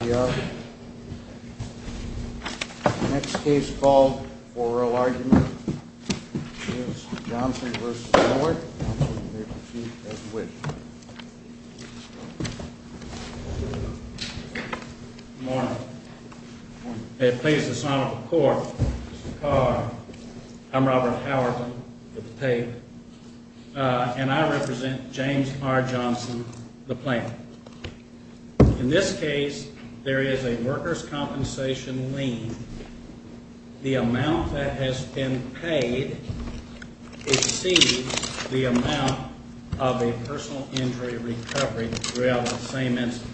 The next case called for oral argument is Johnson v. Moore, and you may proceed as you wish. Good morning. May it please the Senate Court, Mr. Carr, I'm Robert Howerton, with the paid, and I represent James R. Johnson, the plaintiff. In this case, there is a workers' compensation lien. The amount that has been paid exceeds the amount of a personal injury recovery throughout the same incident.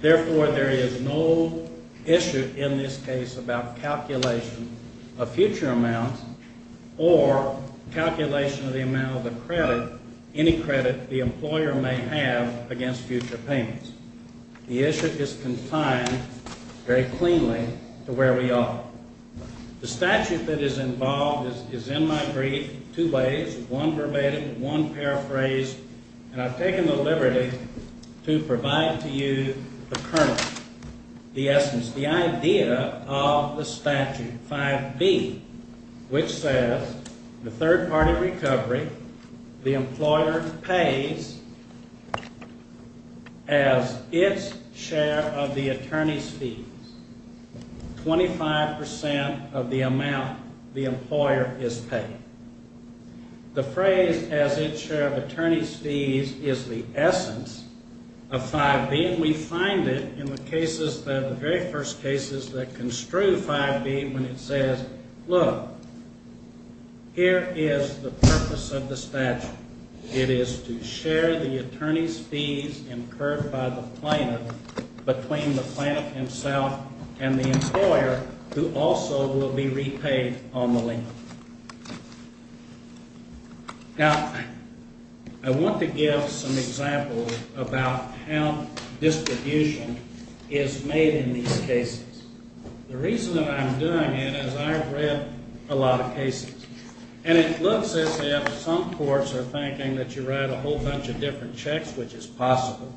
Therefore, there is no issue in this case about calculation of future amounts or calculation of the amount of the credit, any credit, the employer may have against future payments. The issue is confined very cleanly to where we are. The statute that is involved is in my brief two ways, one verbatim, one paraphrased, and I've taken the liberty to provide to you the kernel, the essence, which is the idea of the statute, 5B, which says the third-party recovery, the employer pays as its share of the attorney's fees, 25 percent of the amount the employer is paying. The phrase, as its share of attorney's fees, is the essence of 5B, and we find it in the cases, the very first cases that construe 5B when it says, look, here is the purpose of the statute. It is to share the attorney's fees incurred by the plaintiff between the plaintiff himself and the employer, who also will be repaid on the lien. Now, I want to give some examples about how distribution is made in these cases. The reason that I'm doing it is I've read a lot of cases, and it looks as if some courts are thinking that you write a whole bunch of different checks, which is possible.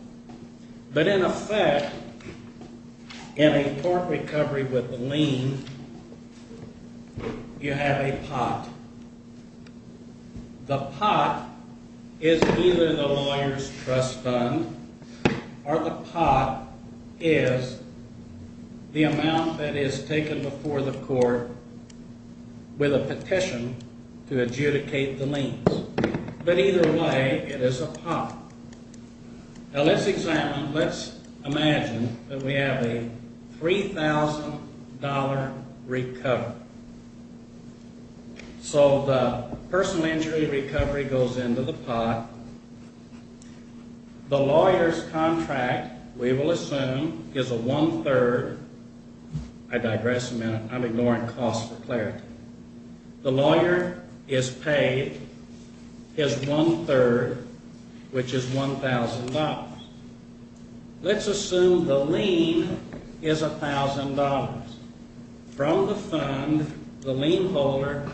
But in effect, in a court recovery with a lien, you have a pot. The pot is either the lawyer's trust fund or the pot is the amount that is taken before the court with a petition to adjudicate the liens. But either way, it is a pot. Now, let's examine, let's imagine that we have a $3,000 recovery. So the personal injury recovery goes into the pot. The lawyer's contract, we will assume, is a one-third, I digress a minute, I'm ignoring cost for clarity. The lawyer is paid his one-third, which is $1,000. Let's assume the lien is $1,000. From the fund, the lien holder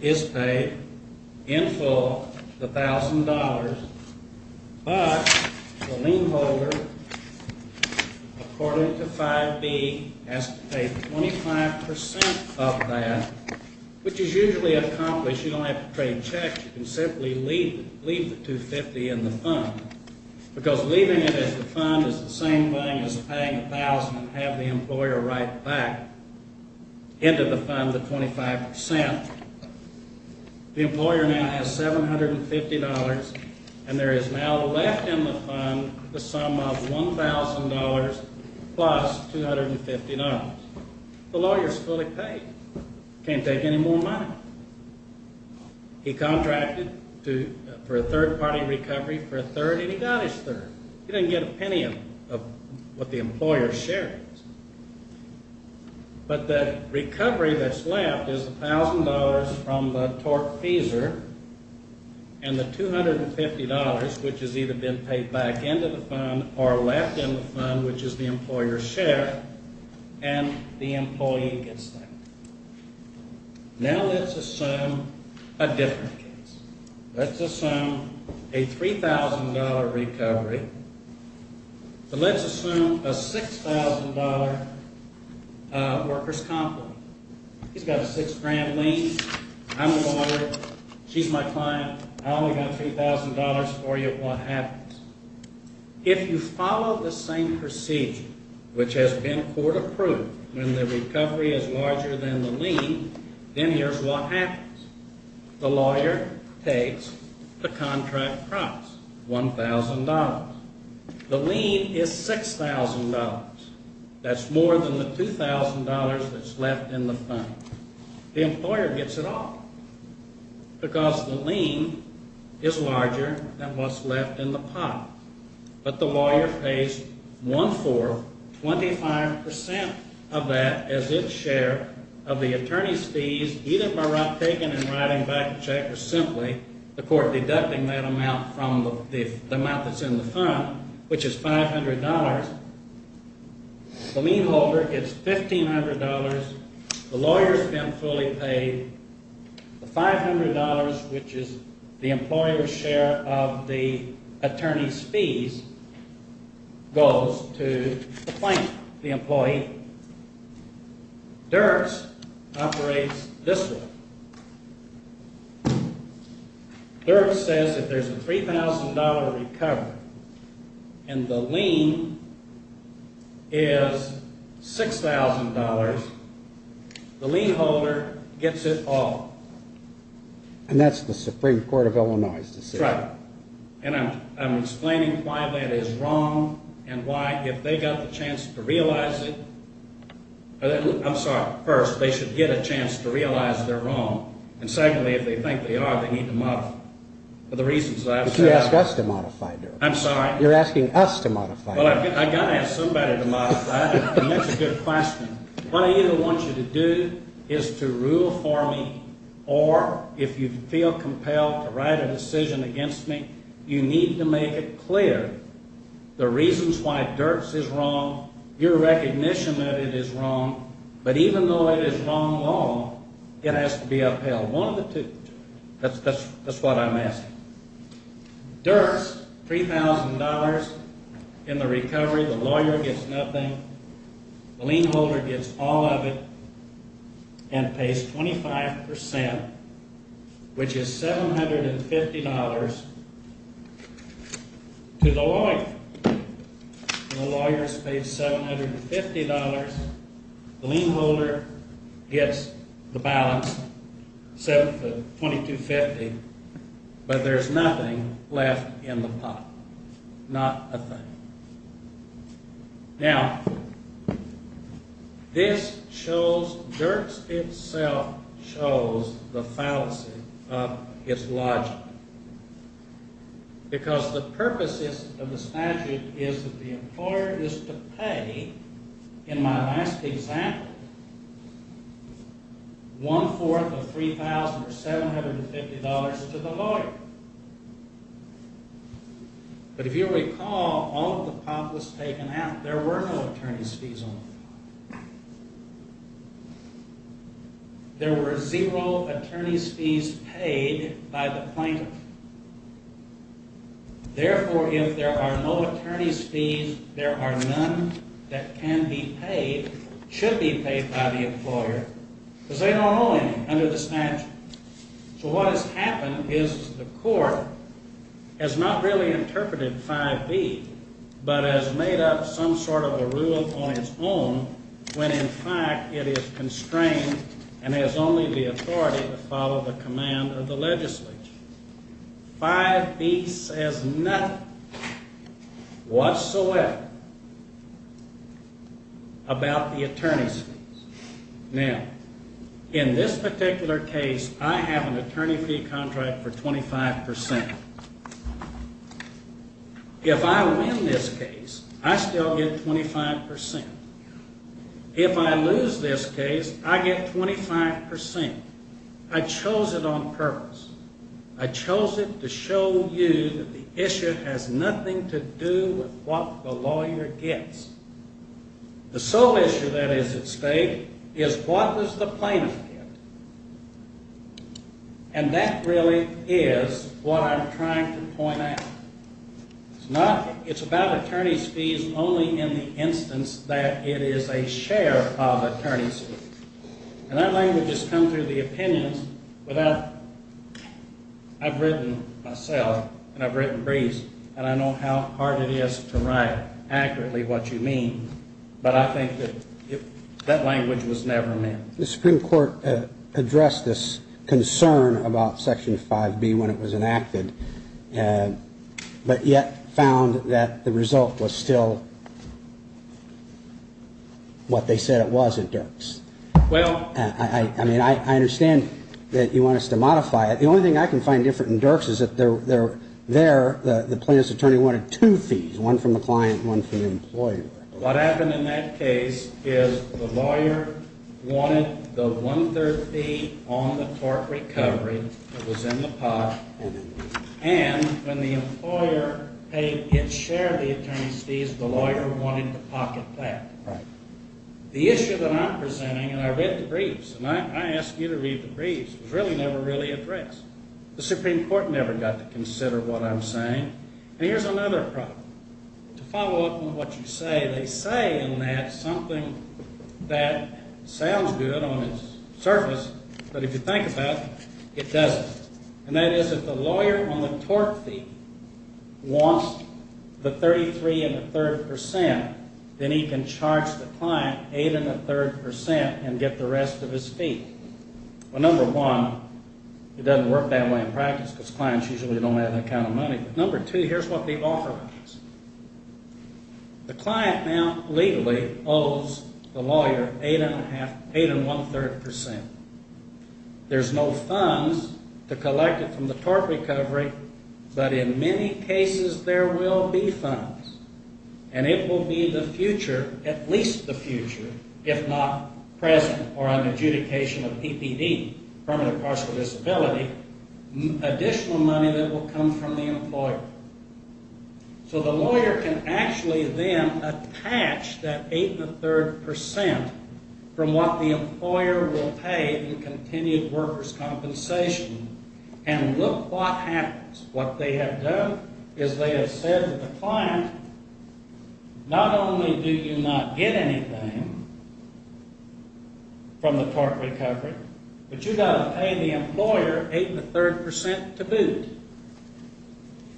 is paid in full the $1,000. But the lien holder, according to 5B, has to pay 25% of that, which is usually accomplished. You don't have to trade checks. You can simply leave the 250 in the fund. Because leaving it at the fund is the same thing as paying 1,000 and have the employer write back into the fund the 25%. The employer now has $750, and there is now left in the fund the sum of $1,000 plus $250. The lawyer is fully paid. He can't take any more money. He contracted for a third-party recovery for a third, and he got his third. He didn't get a penny of what the employer's share is. But the recovery that's left is the $1,000 from the TORC feeser and the $250, which has either been paid back into the fund or left in the fund, which is the employer's share, and the employee gets that. Now let's assume a different case. Let's assume a $3,000 recovery, but let's assume a $6,000 worker's complaint. He's got a $6,000 lien. I'm the lawyer. She's my client. I only got $3,000 for you. What happens? If you follow the same procedure, which has been court-approved, when the recovery is larger than the lien, then here's what happens. The lawyer takes the contract price, $1,000. The lien is $6,000. That's more than the $2,000 that's left in the fund. The employer gets it all because the lien is larger than what's left in the pot. But the lawyer pays one-fourth, 25% of that as its share of the attorney's fees, either by taking and writing back the check or simply the court deducting that amount from the amount that's in the fund, which is $500. The lien holder gets $1,500. The lawyer's been fully paid. The $500, which is the employer's share of the attorney's fees, goes to the plaintiff, the employee. Dirks operates this way. Dirks says if there's a $3,000 recovery and the lien is $6,000, the lien holder gets it all. And that's the Supreme Court of Illinois's decision. And I'm explaining why that is wrong and why if they got the chance to realize it – I'm sorry. First, they should get a chance to realize they're wrong. And secondly, if they think they are, they need to modify it for the reasons that I've said. But you're asking us to modify it. I'm sorry? You're asking us to modify it. Well, I've got to ask somebody to modify it. And that's a good question. What I either want you to do is to rule for me or if you feel compelled to write a decision against me, you need to make it clear the reasons why Dirks is wrong, your recognition that it is wrong. But even though it is wrong long, it has to be upheld. One of the two. That's what I'm asking. Dirks, $3,000 in the recovery. The lawyer gets nothing. The lien holder gets all of it and pays 25%, which is $750 to the lawyer. And the lawyer pays $750. The lien holder gets the balance, $2,250, but there's nothing left in the pot. Not a thing. Now, this shows, Dirks itself shows the fallacy of its logic. Because the purpose of this statute is that the employer is to pay, in my last example, one-fourth of $3,750 to the lawyer. But if you recall, all of the pot was taken out. There were no attorney's fees on the pot. There were zero attorney's fees paid by the plaintiff. Therefore, if there are no attorney's fees, there are none that can be paid, should be paid by the employer, because they don't owe any under the statute. So what has happened is the court has not really interpreted 5B, but has made up some sort of a rule on its own, when in fact it is constrained and has only the authority to follow the command of the legislature. 5B says nothing whatsoever about the attorney's fees. Now, in this particular case, I have an attorney fee contract for 25%. If I win this case, I still get 25%. If I lose this case, I get 25%. I chose it on purpose. I chose it to show you that the issue has nothing to do with what the lawyer gets. The sole issue that is at stake is what does the plaintiff get? And that really is what I'm trying to point out. It's about attorney's fees only in the instance that it is a share of attorney's fees. And that language has come through the opinions. I've written myself, and I've written Brees, and I know how hard it is to write accurately what you mean, but I think that that language was never meant. The Supreme Court addressed this concern about Section 5B when it was enacted, but yet found that the result was still what they said it was at Dirks. I mean, I understand that you want us to modify it. The only thing I can find different in Dirks is that there, the plaintiff's attorney wanted two fees, one from the client and one from the employer. What happened in that case is the lawyer wanted the one-third fee on the tort recovery that was in the pot, and when the employer paid its share of the attorney's fees, the lawyer wanted to pocket that. The issue that I'm presenting, and I read the briefs, and I ask you to read the briefs, was really never really addressed. The Supreme Court never got to consider what I'm saying. And here's another problem. To follow up on what you say, they say in that something that sounds good on its surface, but if you think about it, it doesn't. And that is if the lawyer on the tort fee wants the 33 and a third percent, then he can charge the client eight and a third percent and get the rest of his fee. Well, number one, it doesn't work that way in practice because clients usually don't have that kind of money. Number two, here's what the offer is. The client now legally owes the lawyer eight and one-third percent. There's no funds to collect it from the tort recovery, but in many cases there will be funds. And it will be the future, at least the future, if not present or on adjudication of PPD, permanent partial disability, additional money that will come from the employer. So the lawyer can actually then attach that eight and a third percent from what the employer will pay in continued workers' compensation, and look what happens. What they have done is they have said to the client, not only do you not get anything from the tort recovery, but you've got to pay the employer eight and a third percent to boot,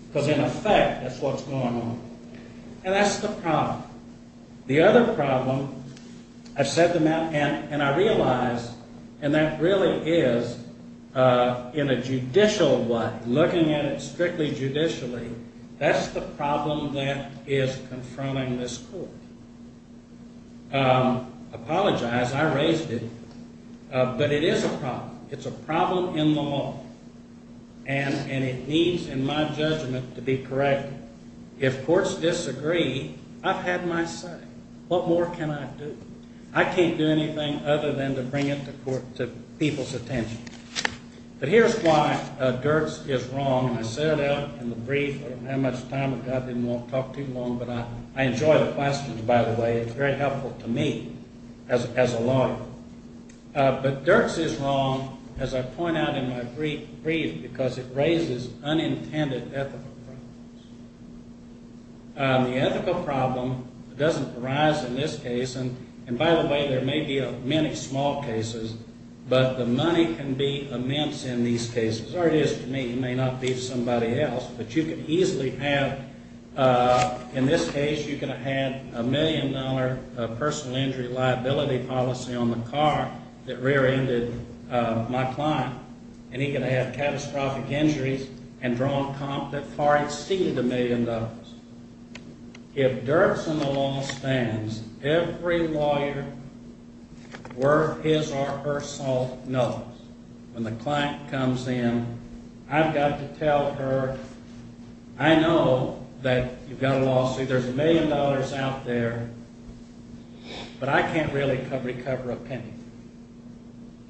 because in effect that's what's going on. And that's the problem. The other problem, I said to Matt, and I realize, and that really is in a judicial way, looking at it strictly judicially, that's the problem that is confronting this court. Apologize. I raised it. But it is a problem. It's a problem in the law. And it needs, in my judgment, to be corrected. If courts disagree, I've had my say. What more can I do? I can't do anything other than to bring it to people's attention. But here's why Dirks is wrong. I said that in the brief. I don't have much time. I didn't want to talk too long. But I enjoy the questions, by the way. It's very helpful to me as a lawyer. But Dirks is wrong, as I point out in my brief, because it raises unintended ethical problems. The ethical problem doesn't arise in this case, and by the way, there may be many small cases, but the money can be immense in these cases. Or it is to me. It may not be to somebody else. But you could easily have, in this case, you could have had a million-dollar personal injury liability policy on the car that rear-ended my client. And he could have had catastrophic injuries and drawn comp that far exceeded a million dollars. If Dirks and the law stands, every lawyer worth his or her salt knows when the client comes in, I've got to tell her, I know that you've got a lawsuit, there's a million dollars out there, but I can't really recover a penny.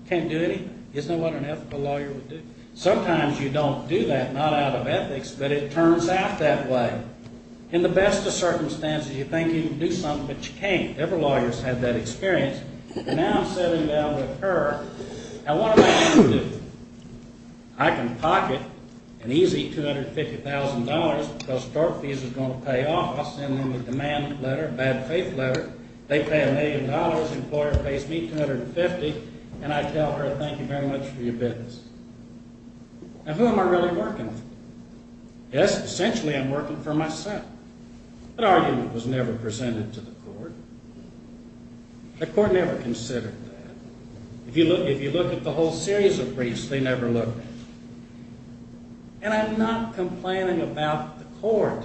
Can't do anything. Isn't that what an ethical lawyer would do? Sometimes you don't do that, not out of ethics, but it turns out that way. In the best of circumstances, you think you can do something, but you can't. Every lawyer's had that experience, and now I'm sitting down with her, and what am I going to do? I can pocket an easy $250,000 because store fees are going to pay off. I'll send them a demand letter, a bad faith letter. They pay a million dollars, the employer pays me $250,000, and I tell her, thank you very much for your business. And who am I really working for? Yes, essentially I'm working for myself. That argument was never presented to the court. The court never considered that. If you look at the whole series of briefs, they never looked at it. And I'm not complaining about the court.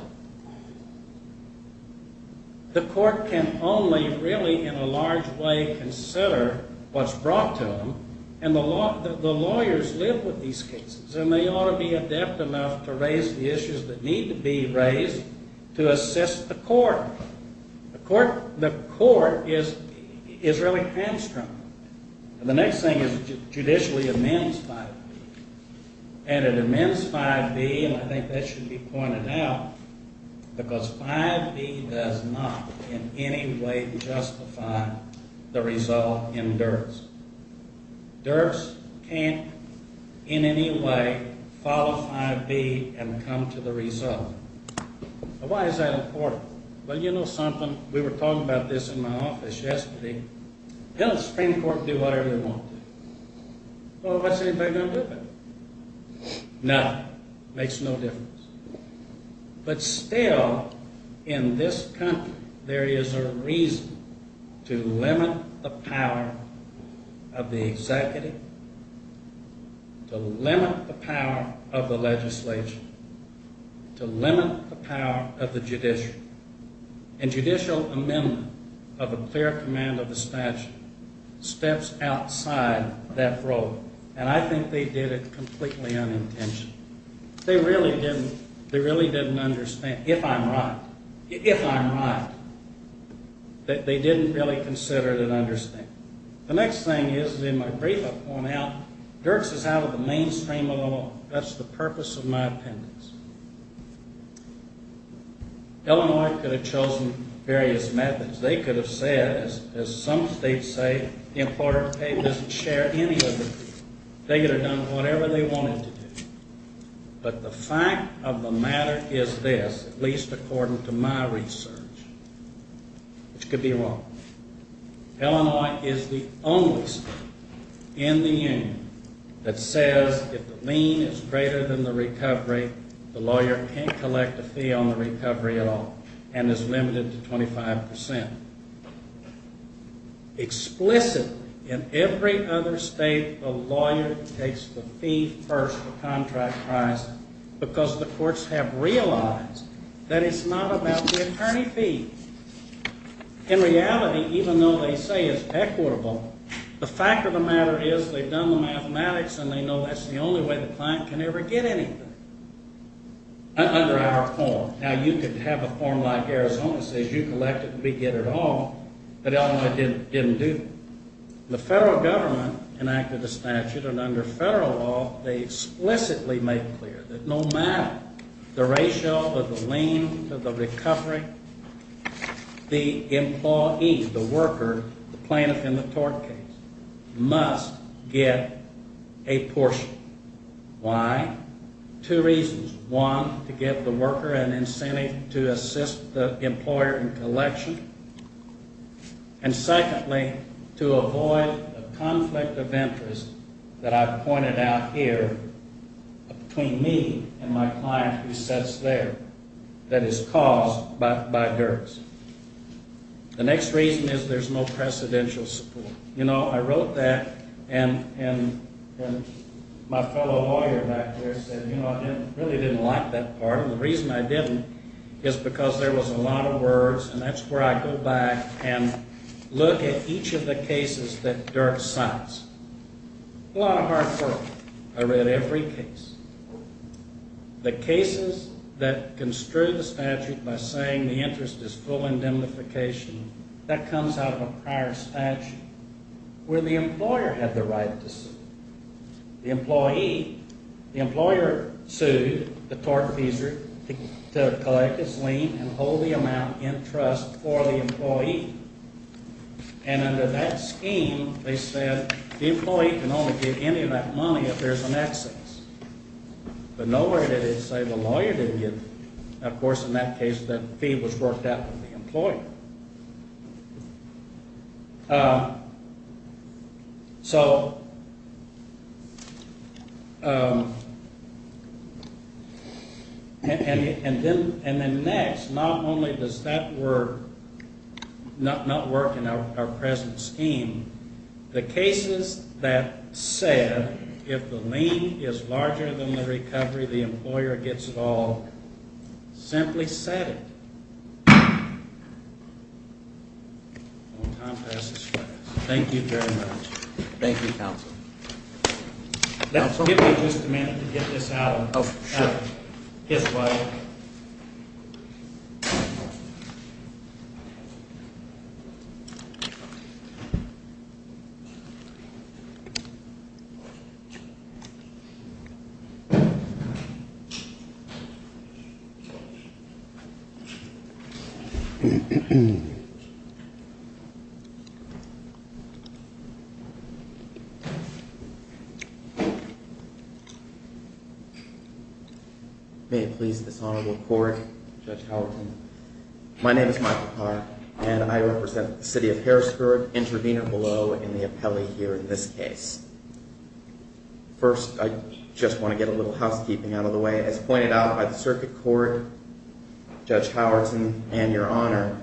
The court can only really in a large way consider what's brought to them, and the lawyers live with these cases, and they ought to be adept enough to raise the issues that need to be raised to assist the court. The court is really hamstrung. And the next thing is it judicially amends 5B. And it amends 5B, and I think that should be pointed out, because 5B does not in any way justify the result in Dirks. Dirks can't in any way follow 5B and come to the result. Why is that important? Well, you know something, we were talking about this in my office yesterday. Let the Supreme Court do whatever they want to. Well, what's anybody going to do about it? Nothing. Makes no difference. But still, in this country, there is a reason to limit the power of the executive, to limit the power of the legislature, to limit the power of the judiciary. And judicial amendment of a clear command of the statute steps outside that role. And I think they did it completely unintentionally. They really didn't understand, if I'm right, if I'm right, that they didn't really consider and understand. The next thing is, in my brief I point out, Dirks is out of the mainstream of the law. That's the purpose of my appendix. Illinois could have chosen various methods. They could have said, as some states say, the employer of the paper doesn't share any of the proof. They could have done whatever they wanted to do. But the fact of the matter is this, at least according to my research, which could be wrong. Illinois is the only state in the union that says if the lien is greater than the recovery, the lawyer can't collect a fee on the recovery at all and is limited to 25%. Explicitly, in every other state, the lawyer takes the fee first, the contract price, because the courts have realized that it's not about the attorney fee. In reality, even though they say it's equitable, the fact of the matter is they've done the mathematics and they know that's the only way the client can ever get anything under our form. Now, you could have a form like Arizona says you collect it and we get it all, but Illinois didn't do that. The federal government enacted a statute, and under federal law they explicitly made clear that no matter the ratio of the lien to the recovery, the employee, the worker, the plaintiff in the tort case, must get a portion. Why? Two reasons. One, to give the worker an incentive to assist the employer in collection. And secondly, to avoid a conflict of interest that I've pointed out here between me and my client who sits there that is caused by dirts. The next reason is there's no precedential support. You know, I wrote that, and my fellow lawyer back there said, you know, I really didn't like that part, and the reason I didn't is because there was a lot of words, and that's where I go back and look at each of the cases that Dirk cites. A lot of hard work. I read every case. The cases that construe the statute by saying the interest is full indemnification, that comes out of a prior statute where the employer had the right to sue. The employee, the employer sued the tortfeasor to collect his lien and hold the amount in trust for the employee, and under that scheme they said the employee can only get any of that money if there's an excess. But nowhere did it say the lawyer didn't get it. And then next, not only does that work, not work in our present scheme, the cases that said if the lien is larger than the recovery, the employer gets it all, simply said it. Time passes. Thank you very much. Thank you. Give me just a minute to get this out of his way. May it please this honorable court, Judge Howerton. My name is Michael Carr, and I represent the city of Harrisburg, Intervenor Below, and the appellee here in this case. First, I just want to get a little housekeeping out of the way. As pointed out by the circuit court, Judge Howerton and Your Honor,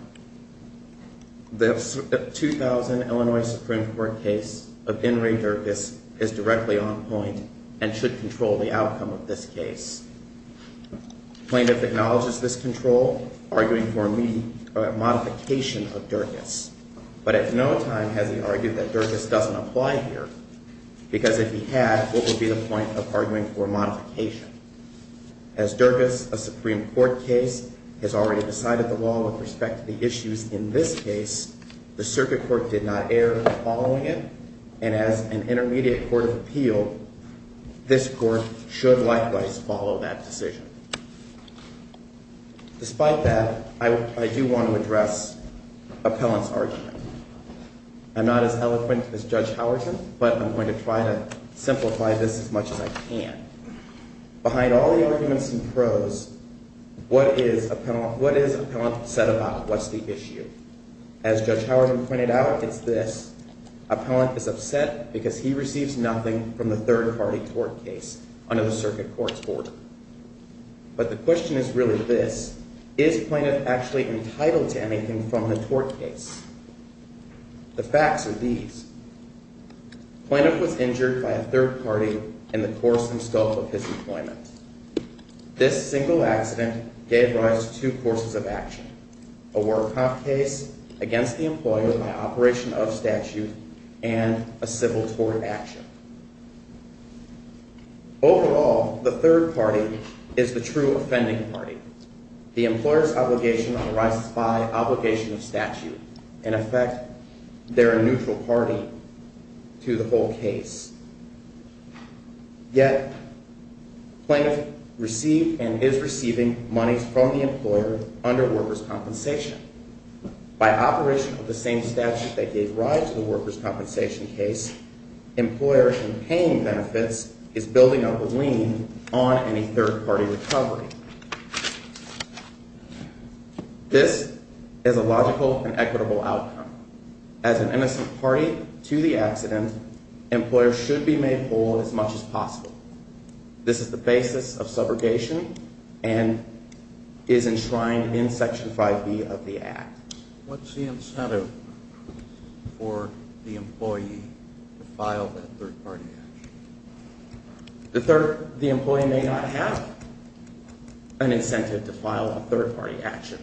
the 2000 Illinois Supreme Court case of In re Dirkis is directly on point and should control the outcome of this case. Plaintiff acknowledges this control, arguing for a modification of Dirkis, but at no time has he argued that Dirkis doesn't apply here, because if he had, what would be the point of arguing for a modification? As Dirkis, a Supreme Court case, has already decided the law with respect to the issues in this case, the circuit court did not err in following it, and as an intermediate court of appeal, this court should likewise follow that decision. Despite that, I do want to address Appellant's argument. I'm not as eloquent as Judge Howerton, but I'm going to try to simplify this as much as I can. Behind all the arguments and prose, what is Appellant upset about? What's the issue? As Judge Howerton pointed out, it's this. Appellant is upset because he receives nothing from the third-party tort case under the circuit court's order. But the question is really this. Is Plaintiff actually entitled to anything from the tort case? The facts are these. Plaintiff was injured by a third-party in the course and scope of his employment. This single accident gave rise to two courses of action, a work-off case against the employer by operation of statute and a civil tort action. Overall, the third party is the true offending party. The employer's obligation arises by obligation of statute. In effect, they're a neutral party to the whole case. Yet, Plaintiff received and is receiving monies from the employer under workers' compensation. By operation of the same statute that gave rise to the workers' compensation case, employer in paying benefits is building up a lien on any third-party recovery. This is a logical and equitable outcome. As an innocent party to the accident, employer should be made whole as much as possible. This is the basis of subrogation and is enshrined in Section 5B of the Act. What's the incentive for the employee to file that third-party action? The employee may not have an incentive to file a third-party action.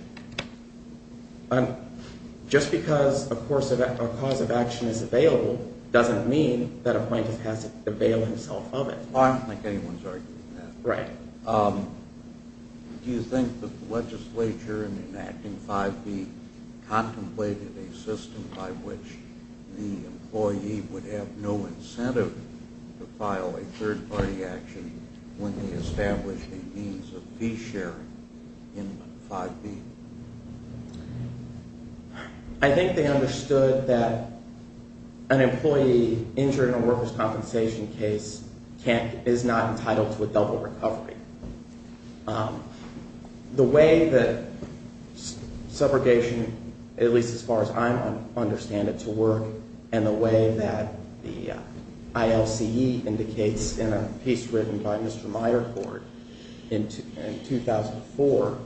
Just because a cause of action is available doesn't mean that a plaintiff has to avail himself of it. I don't think anyone's arguing that. Do you think that the legislature in enacting 5B contemplated a system by which the employee would have no incentive to file a third-party action when they established a means of fee sharing in 5B? I think they understood that an employee injured in a workers' compensation case is not entitled to a double recovery. The way that subrogation, at least as far as I understand it, to work and the way that the ILCE indicates in a piece written by Mr. Myerford in 2004,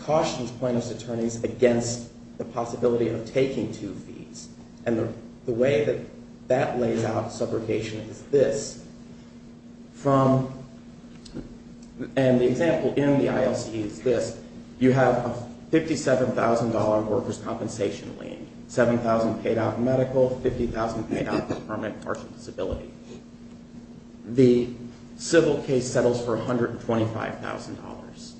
cautions plaintiff's attorneys against the possibility of taking two fees. The way that that lays out subrogation is this. The example in the ILCE is this. You have a $57,000 workers' compensation lien, $7,000 paid out in medical, $50,000 paid out for permanent partial disability. The civil case settles for $125,000.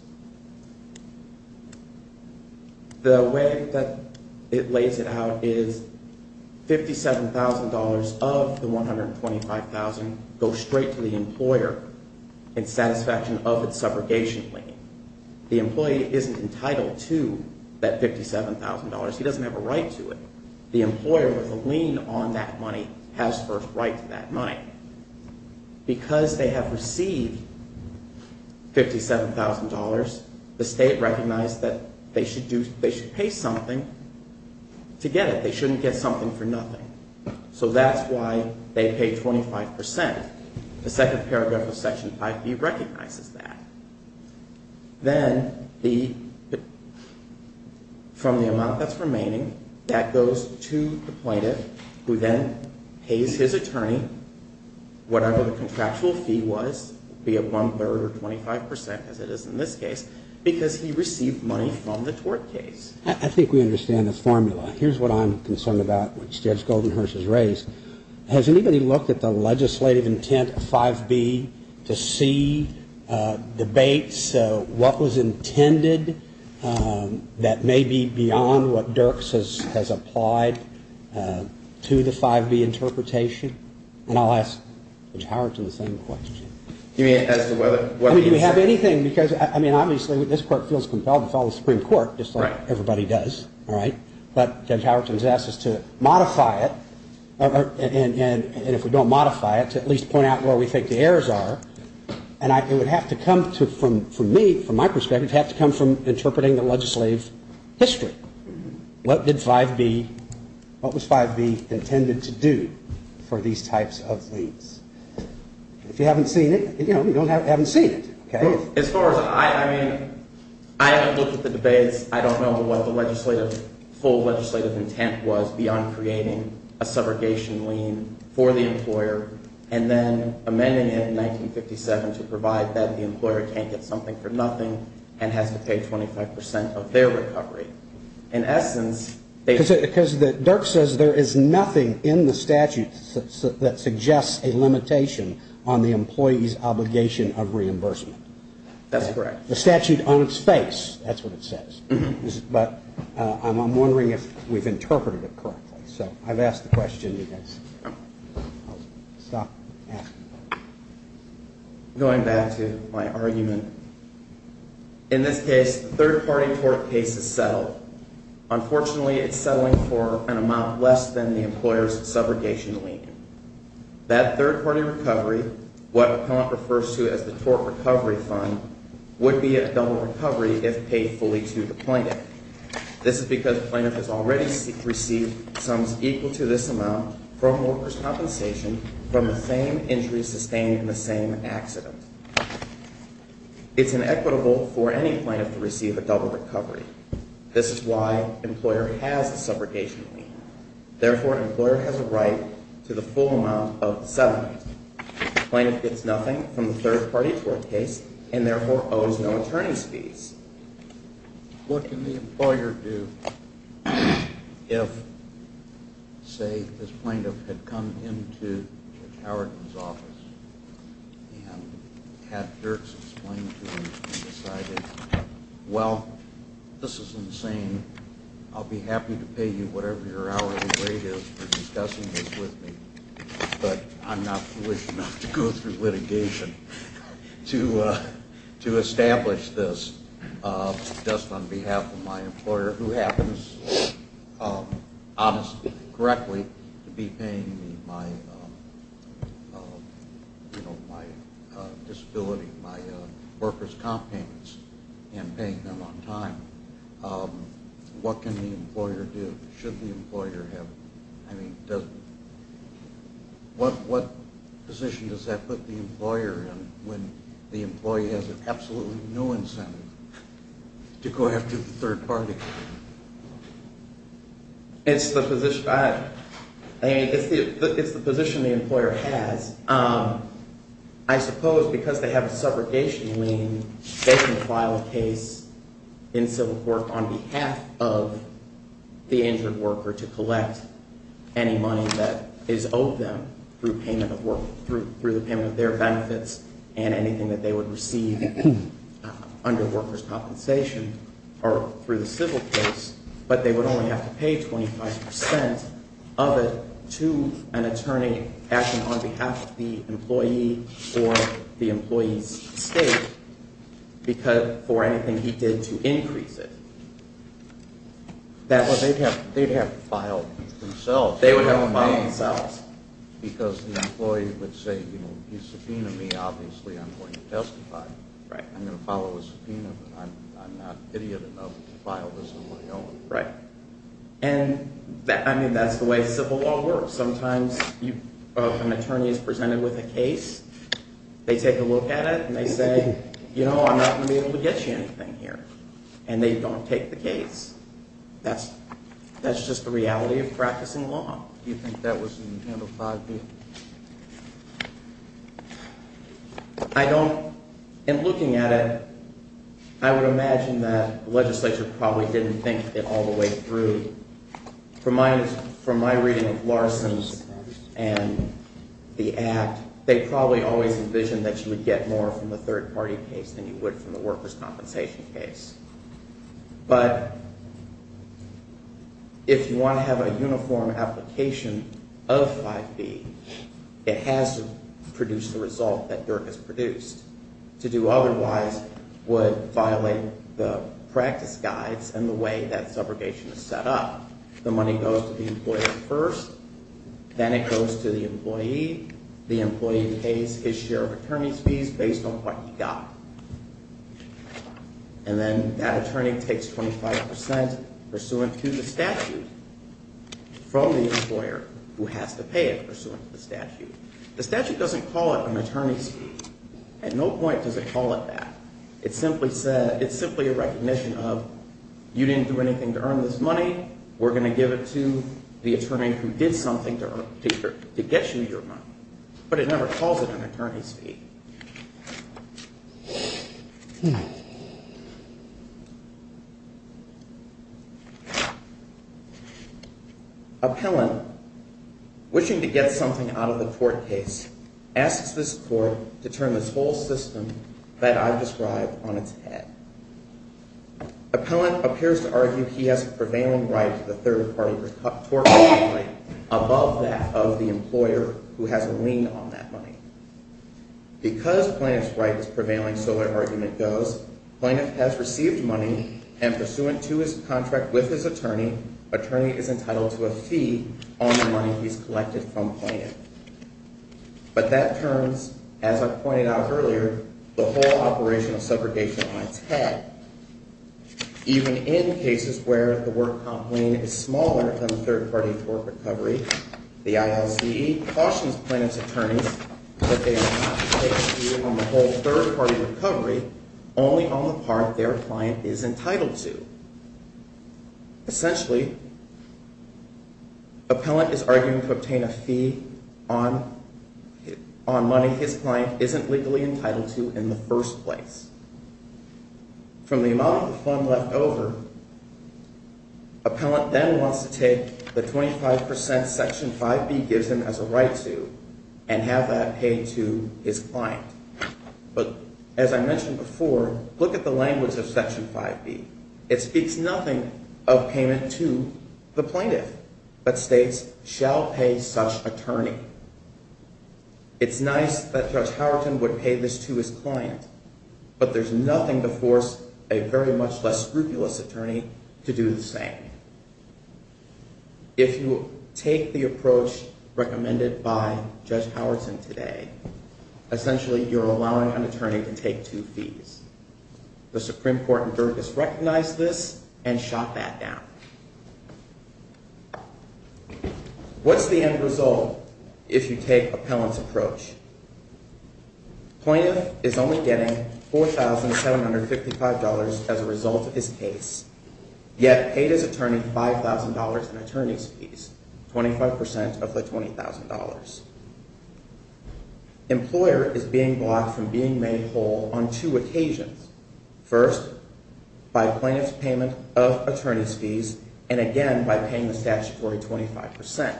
The way that it lays it out is $57,000 of the $125,000 goes straight to the employer in satisfaction of its subrogation lien. The employee isn't entitled to that $57,000. He doesn't have a right to it. The employer with a lien on that money has first right to that money. Because they have received $57,000, the state recognized that they should pay something to get it. They shouldn't get something for nothing. So that's why they pay 25%. The second paragraph of Section 5B recognizes that. Then the, from the amount that's remaining, that goes to the plaintiff who then pays his attorney whatever the contractual fee was, be it one-third or 25% as it is in this case, because he received money from the tort case. I think we understand the formula. Here's what I'm concerned about, which Judge Goldenhurst has raised. Has anybody looked at the legislative intent of 5B to see debates, what was intended that may be beyond what Dirks has applied to the 5B interpretation? And I'll ask Judge Howerton the same question. I mean, do we have anything? Because, I mean, obviously, this Court feels compelled to follow the Supreme Court, just like everybody does. All right? But Judge Howerton has asked us to modify it, and if we don't modify it, to at least point out where we think the errors are. And it would have to come to, from me, from my perspective, it would have to come from interpreting the legislative history. What did 5B, what was 5B intended to do for these types of liens? If you haven't seen it, you know, you haven't seen it. Okay? As far as I, I mean, I haven't looked at the debates. I don't know what the legislative, full legislative intent was beyond creating a subrogation lien for the employer and then amending it in 1957 to provide that the employer can't get something for nothing and has to pay 25% of their recovery. Because Dirk says there is nothing in the statute that suggests a limitation on the employee's obligation of reimbursement. That's correct. The statute on its face, that's what it says. But I'm wondering if we've interpreted it correctly. So I've asked the question. I'm going back to my argument. In this case, the third-party tort case is settled. Unfortunately, it's settling for an amount less than the employer's subrogation lien. That third-party recovery, what Appellant refers to as the tort recovery fund, would be a double recovery if paid fully to the plaintiff. This is because the plaintiff has already received sums equal to this amount from workers' compensation from the same injuries sustained in the same accident. It's inequitable for any plaintiff to receive a double recovery. This is why the employer has the subrogation lien. Therefore, the employer has a right to the full amount of settlement. The plaintiff gets nothing from the third-party tort case and therefore owes no attorney's fees. What can the employer do if, say, this plaintiff had come into Judge Howard's office and had Dirk explain to him and decided, well, this is insane. I'll be happy to pay you whatever your hourly rate is for discussing this with me. But I'm not foolish enough to go through litigation to establish this just on behalf of my employer, who happens, honestly, correctly, to be paying me my disability, my workers' comp payments and paying them on time. What can the employer do? What position does that put the employer in when the employee has absolutely no incentive to go after the third-party? It's the position the employer has. I suppose because they have a subrogation lien, they can file a case in civil court on behalf of the injured worker to collect any money that is owed them through the payment of their benefits and anything that they would receive under workers' compensation or through the civil case. But they would only have to pay 25 percent of it to an attorney acting on behalf of the employee or the employee's state for anything he did to increase it. They'd have to file themselves. Because the employee would say, you know, you subpoenaed me, obviously I'm going to testify. I'm going to follow a subpoena, but I'm not idiot enough to file this on my own. And that's the way civil law works. Sometimes an attorney is presented with a case, they take a look at it, and they say, you know, I'm not going to be able to get you anything here. That's just the reality of practicing law. I don't, in looking at it, I would imagine that the legislature probably didn't think it all the way through. From my reading of Larson's and the Act, they probably always envisioned that you would get more from the third-party case than you would from the workers' compensation case. But if you want to have a uniform application of 5B, it has to produce the result that Dirk has produced. To do otherwise would violate the practice guides and the way that subrogation is set up. The money goes to the employee first, then it goes to the employee. The employee pays his share of attorney's fees based on what he got. And then that attorney takes 25% pursuant to the statute from the employer who has to pay it pursuant to the statute. The statute doesn't call it an attorney's fee. At no point does it call it that. It's simply a recognition of, you didn't do anything to earn this money, we're going to give it to the attorney who did something to get you your money. But it never calls it an attorney's fee. Appellant, wishing to get something out of the court case, asks this court to turn this whole system that I've described on its head. Appellant appears to argue he has a prevailing right to the third-party court money, above that of the employer who has a lien on that money. Because Plaintiff's right is prevailing, so their argument goes, Plaintiff has received money, and pursuant to his contract with his attorney, attorney is entitled to a fee on the money he's collected from Plaintiff. But that turns, as I pointed out earlier, the whole operation of segregation on its head. Even in cases where the work comp lien is smaller than the third-party court recovery, the ILC cautions Plaintiff's attorneys that they are not to take a fee on the whole third-party recovery, only on the part their client is entitled to. Essentially, Appellant is arguing to obtain a fee on money his client isn't legally entitled to in the first place. From the amount of the fund left over, Appellant then wants to take the 25 percent Section 5B gives him as a right to, and have that paid to his client. But as I mentioned before, look at the language of Section 5B. It speaks nothing of payment to the Plaintiff, but states, shall pay such attorney. It's nice that Judge Howerton would pay this to his client, but there's nothing to force a very much less scrupulous attorney to do the same. If you take the approach recommended by Judge Howerton today, essentially you're allowing an attorney to take two fees. The Supreme Court in Dergis recognized this and shot that down. What's the end result if you take Appellant's approach? Plaintiff is only getting $4,755 as a result of his case, yet paid his attorney $5,000 in attorney's fees, 25 percent of the $20,000. Employer is being blocked from being made whole on two occasions. First, by Plaintiff's payment of attorney's fees, and again by paying the statutory 25 percent.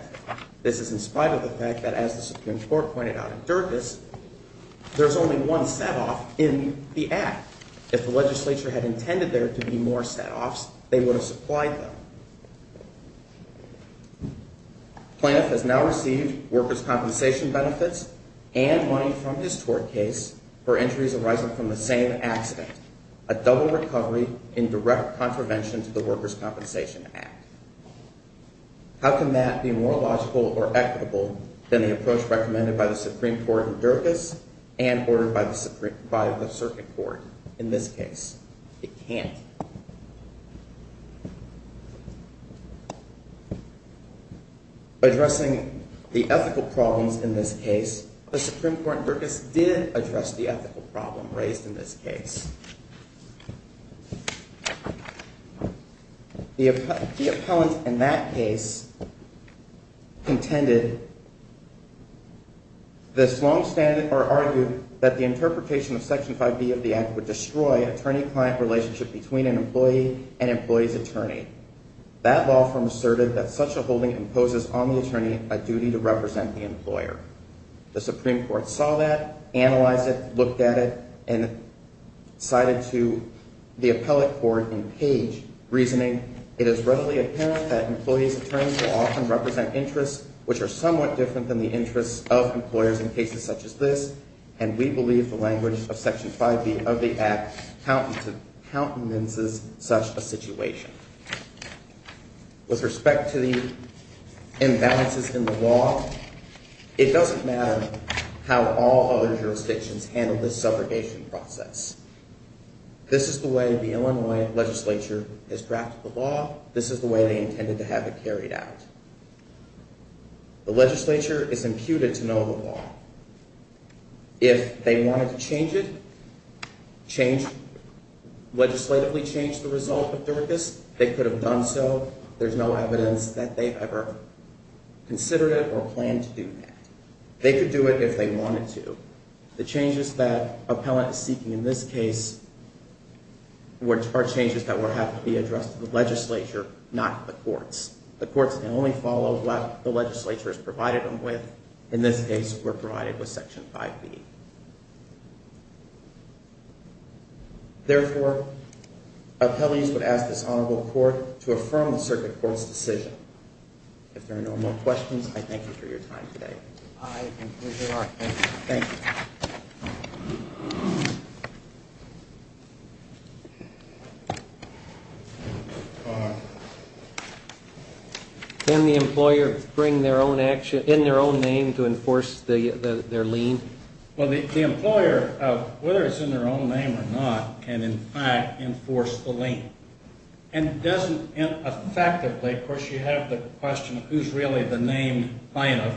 This is in spite of the fact that, as the Supreme Court pointed out in Dergis, there's only one set-off in the Act. If the legislature had intended there to be more set-offs, they would have supplied them. Plaintiff has now received workers' compensation benefits and money from his tort case for injuries arising from the same accident, a double recovery in direct contravention to the Workers' Compensation Act. How can that be more logical or equitable than the approach recommended by the Supreme Court in Dergis and ordered by the Circuit Court in this case? It can't. Addressing the ethical problems in this case, the Supreme Court in Dergis did address the ethical problem raised in this case. The appellant in that case argued that the interpretation of Section 5B of the Act would destroy attorney-client relationship between an employee and employee's attorney. That law firm asserted that such a holding imposes on the attorney a duty to represent the employer. The Supreme Court saw that, analyzed it, looked at it, and cited to the appellate court in Page reasoning, it is readily apparent that employees' attorneys will often represent interests which are somewhat different than the interests of employers in cases such as this, and we believe the language of Section 5B of the Act countenances such a situation. With respect to the imbalances in the law, it doesn't matter how all other jurisdictions handle this subrogation process. This is the way the Illinois legislature has drafted the law. This is the way they intended to have it carried out. The legislature is imputed to know the law. If they wanted to change it, legislatively change the result of Dergis, they could have done so. There's no evidence that they've ever considered it or planned to do that. They could do it if they wanted to. The changes that appellant is seeking in this case are changes that would have to be addressed to the legislature, not the courts. The courts can only follow what the legislature has provided them with. In this case, we're provided with Section 5B. Therefore, appellees would ask this honorable court to affirm the circuit court's decision. If there are no more questions, I thank you for your time today. Can the employer bring their own action in their own name to enforce their lien? Well, the employer, whether it's in their own name or not, can in fact enforce the lien. Effectively, of course, you have the question of who's really the named plaintiff.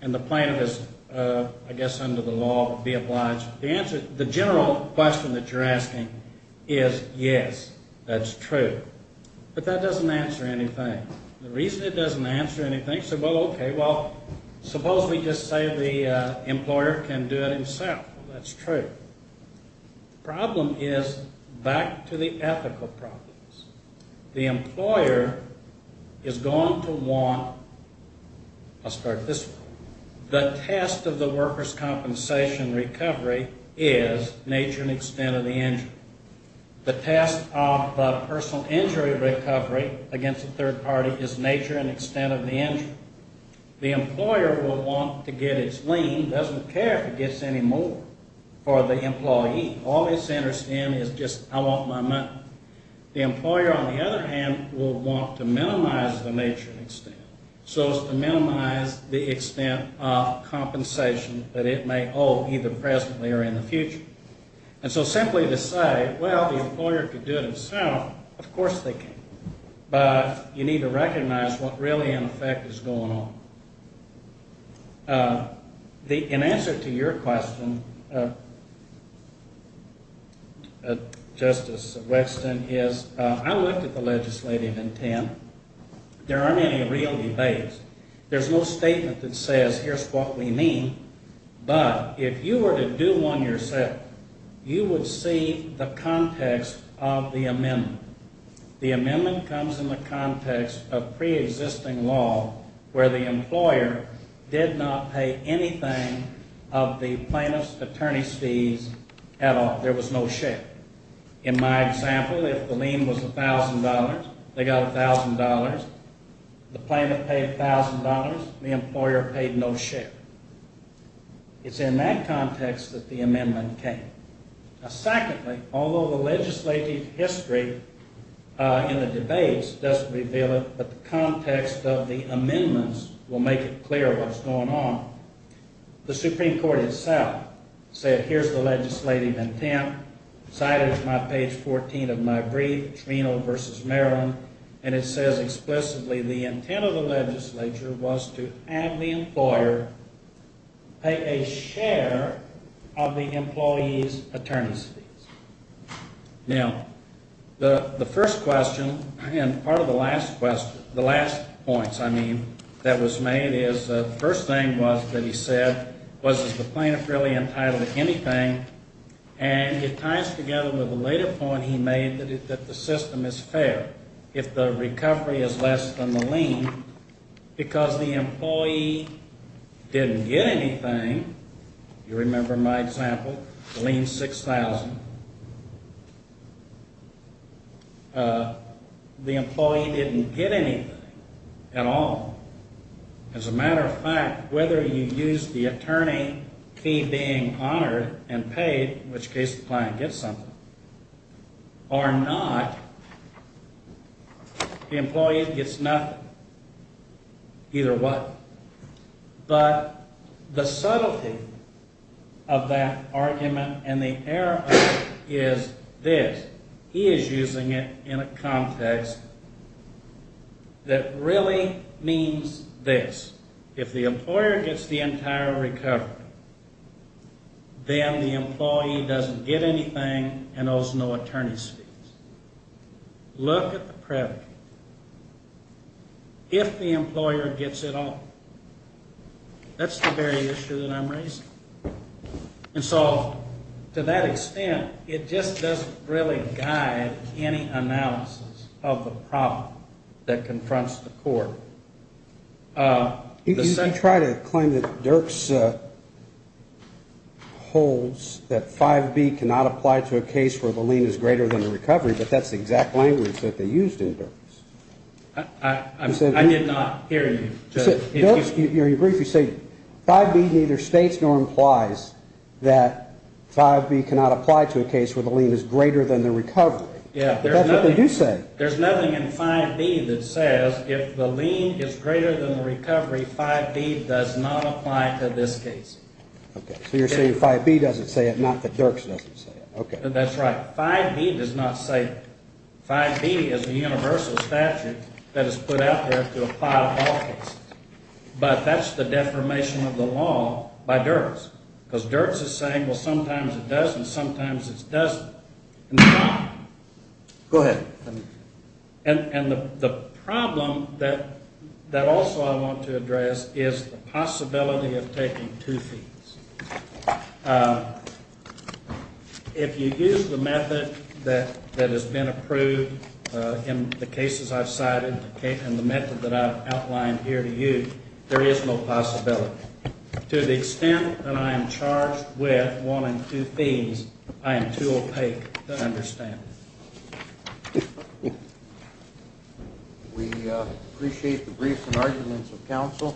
And the plaintiff is, I guess, under the law, be obliged. The general question that you're asking is, yes, that's true. But that doesn't answer anything. The reason it doesn't answer anything is, well, okay, well, suppose we just say the employer can do it himself. Well, that's true. The problem is back to the ethical problems. The employer is going to want, I'll start this way, the test of the worker's compensation recovery is nature and extent of the injury. The employer will want to get its lien, doesn't care if it gets any more for the employee. All it's interested in is just, I want my money. The employer, on the other hand, will want to minimize the nature and extent. So it's to minimize the extent of compensation that it may owe, either presently or in the future. And so simply to say, well, the employer could do it himself, of course they can. But you need to recognize what really, in effect, is going on. In answer to your question, Justice Weston, is I looked at the legislative intent. There aren't any real debates. There's no statement that says, here's what we mean. But if you were to do one yourself, you would see the context of the amendment. The amendment comes in the context of preexisting law, where the employer did not pay anything of the plaintiff's attorney's fees at all. There was no check. In my example, if the lien was $1,000, they got $1,000. The plaintiff paid $1,000. The employer paid no check. It's in that context that the amendment came. Secondly, although the legislative history in the debates doesn't reveal it, but the context of the amendments will make it clear what's going on, the Supreme Court itself said, here's the legislative intent, cited to my page 14 of my brief, Trino v. Maryland, and it says explicitly the intent of the legislature was to have the employer pay a share of the employee's attorney's fees. Now, the last points, I mean, that was made is the first thing that he said was, is the plaintiff really entitled to anything? And it ties together with a later point he made that the system is fair if the recovery is less than the lien, because the employee didn't get anything. You remember my example, the lien's $6,000. The employee didn't get anything at all. As a matter of fact, whether you use the attorney fee being honored and paid, in which case the client gets something, or not, the employee gets nothing. Either what. But the subtlety of that argument and the error of it is this. He is using it in a context that really means this. If the employer gets the entire recovery, then the employee doesn't get anything and owes no attorney's fees. Look at the predicate. If the employer gets it all, that's the very issue that I'm raising. And so to that extent, it just doesn't really guide any analysis of the problem that confronts the court. You try to claim that Dirks holds that 5B cannot apply to a case where the lien is greater than the recovery, but that's the exact language that they used in Dirks. I did not hear you. Dirks, in your brief, you say 5B neither states nor implies that 5B cannot apply to a case where the lien is greater than the recovery. 5B does not apply to this case. So you're saying 5B doesn't say it, not that Dirks doesn't say it. That's right. 5B does not say it. 5B is a universal statute that is put out there to apply to all cases. But that's the deformation of the law by Dirks. Because Dirks is saying, well, sometimes it does and sometimes it doesn't. Go ahead. And the problem that also I want to address is the possibility of taking two fees. If you use the method that has been approved in the cases I've cited and the method that I've outlined here to you, there is no possibility. To the extent that I am charged with wanting two fees, I am too opaque to understand. We appreciate the briefs and arguments of counsel.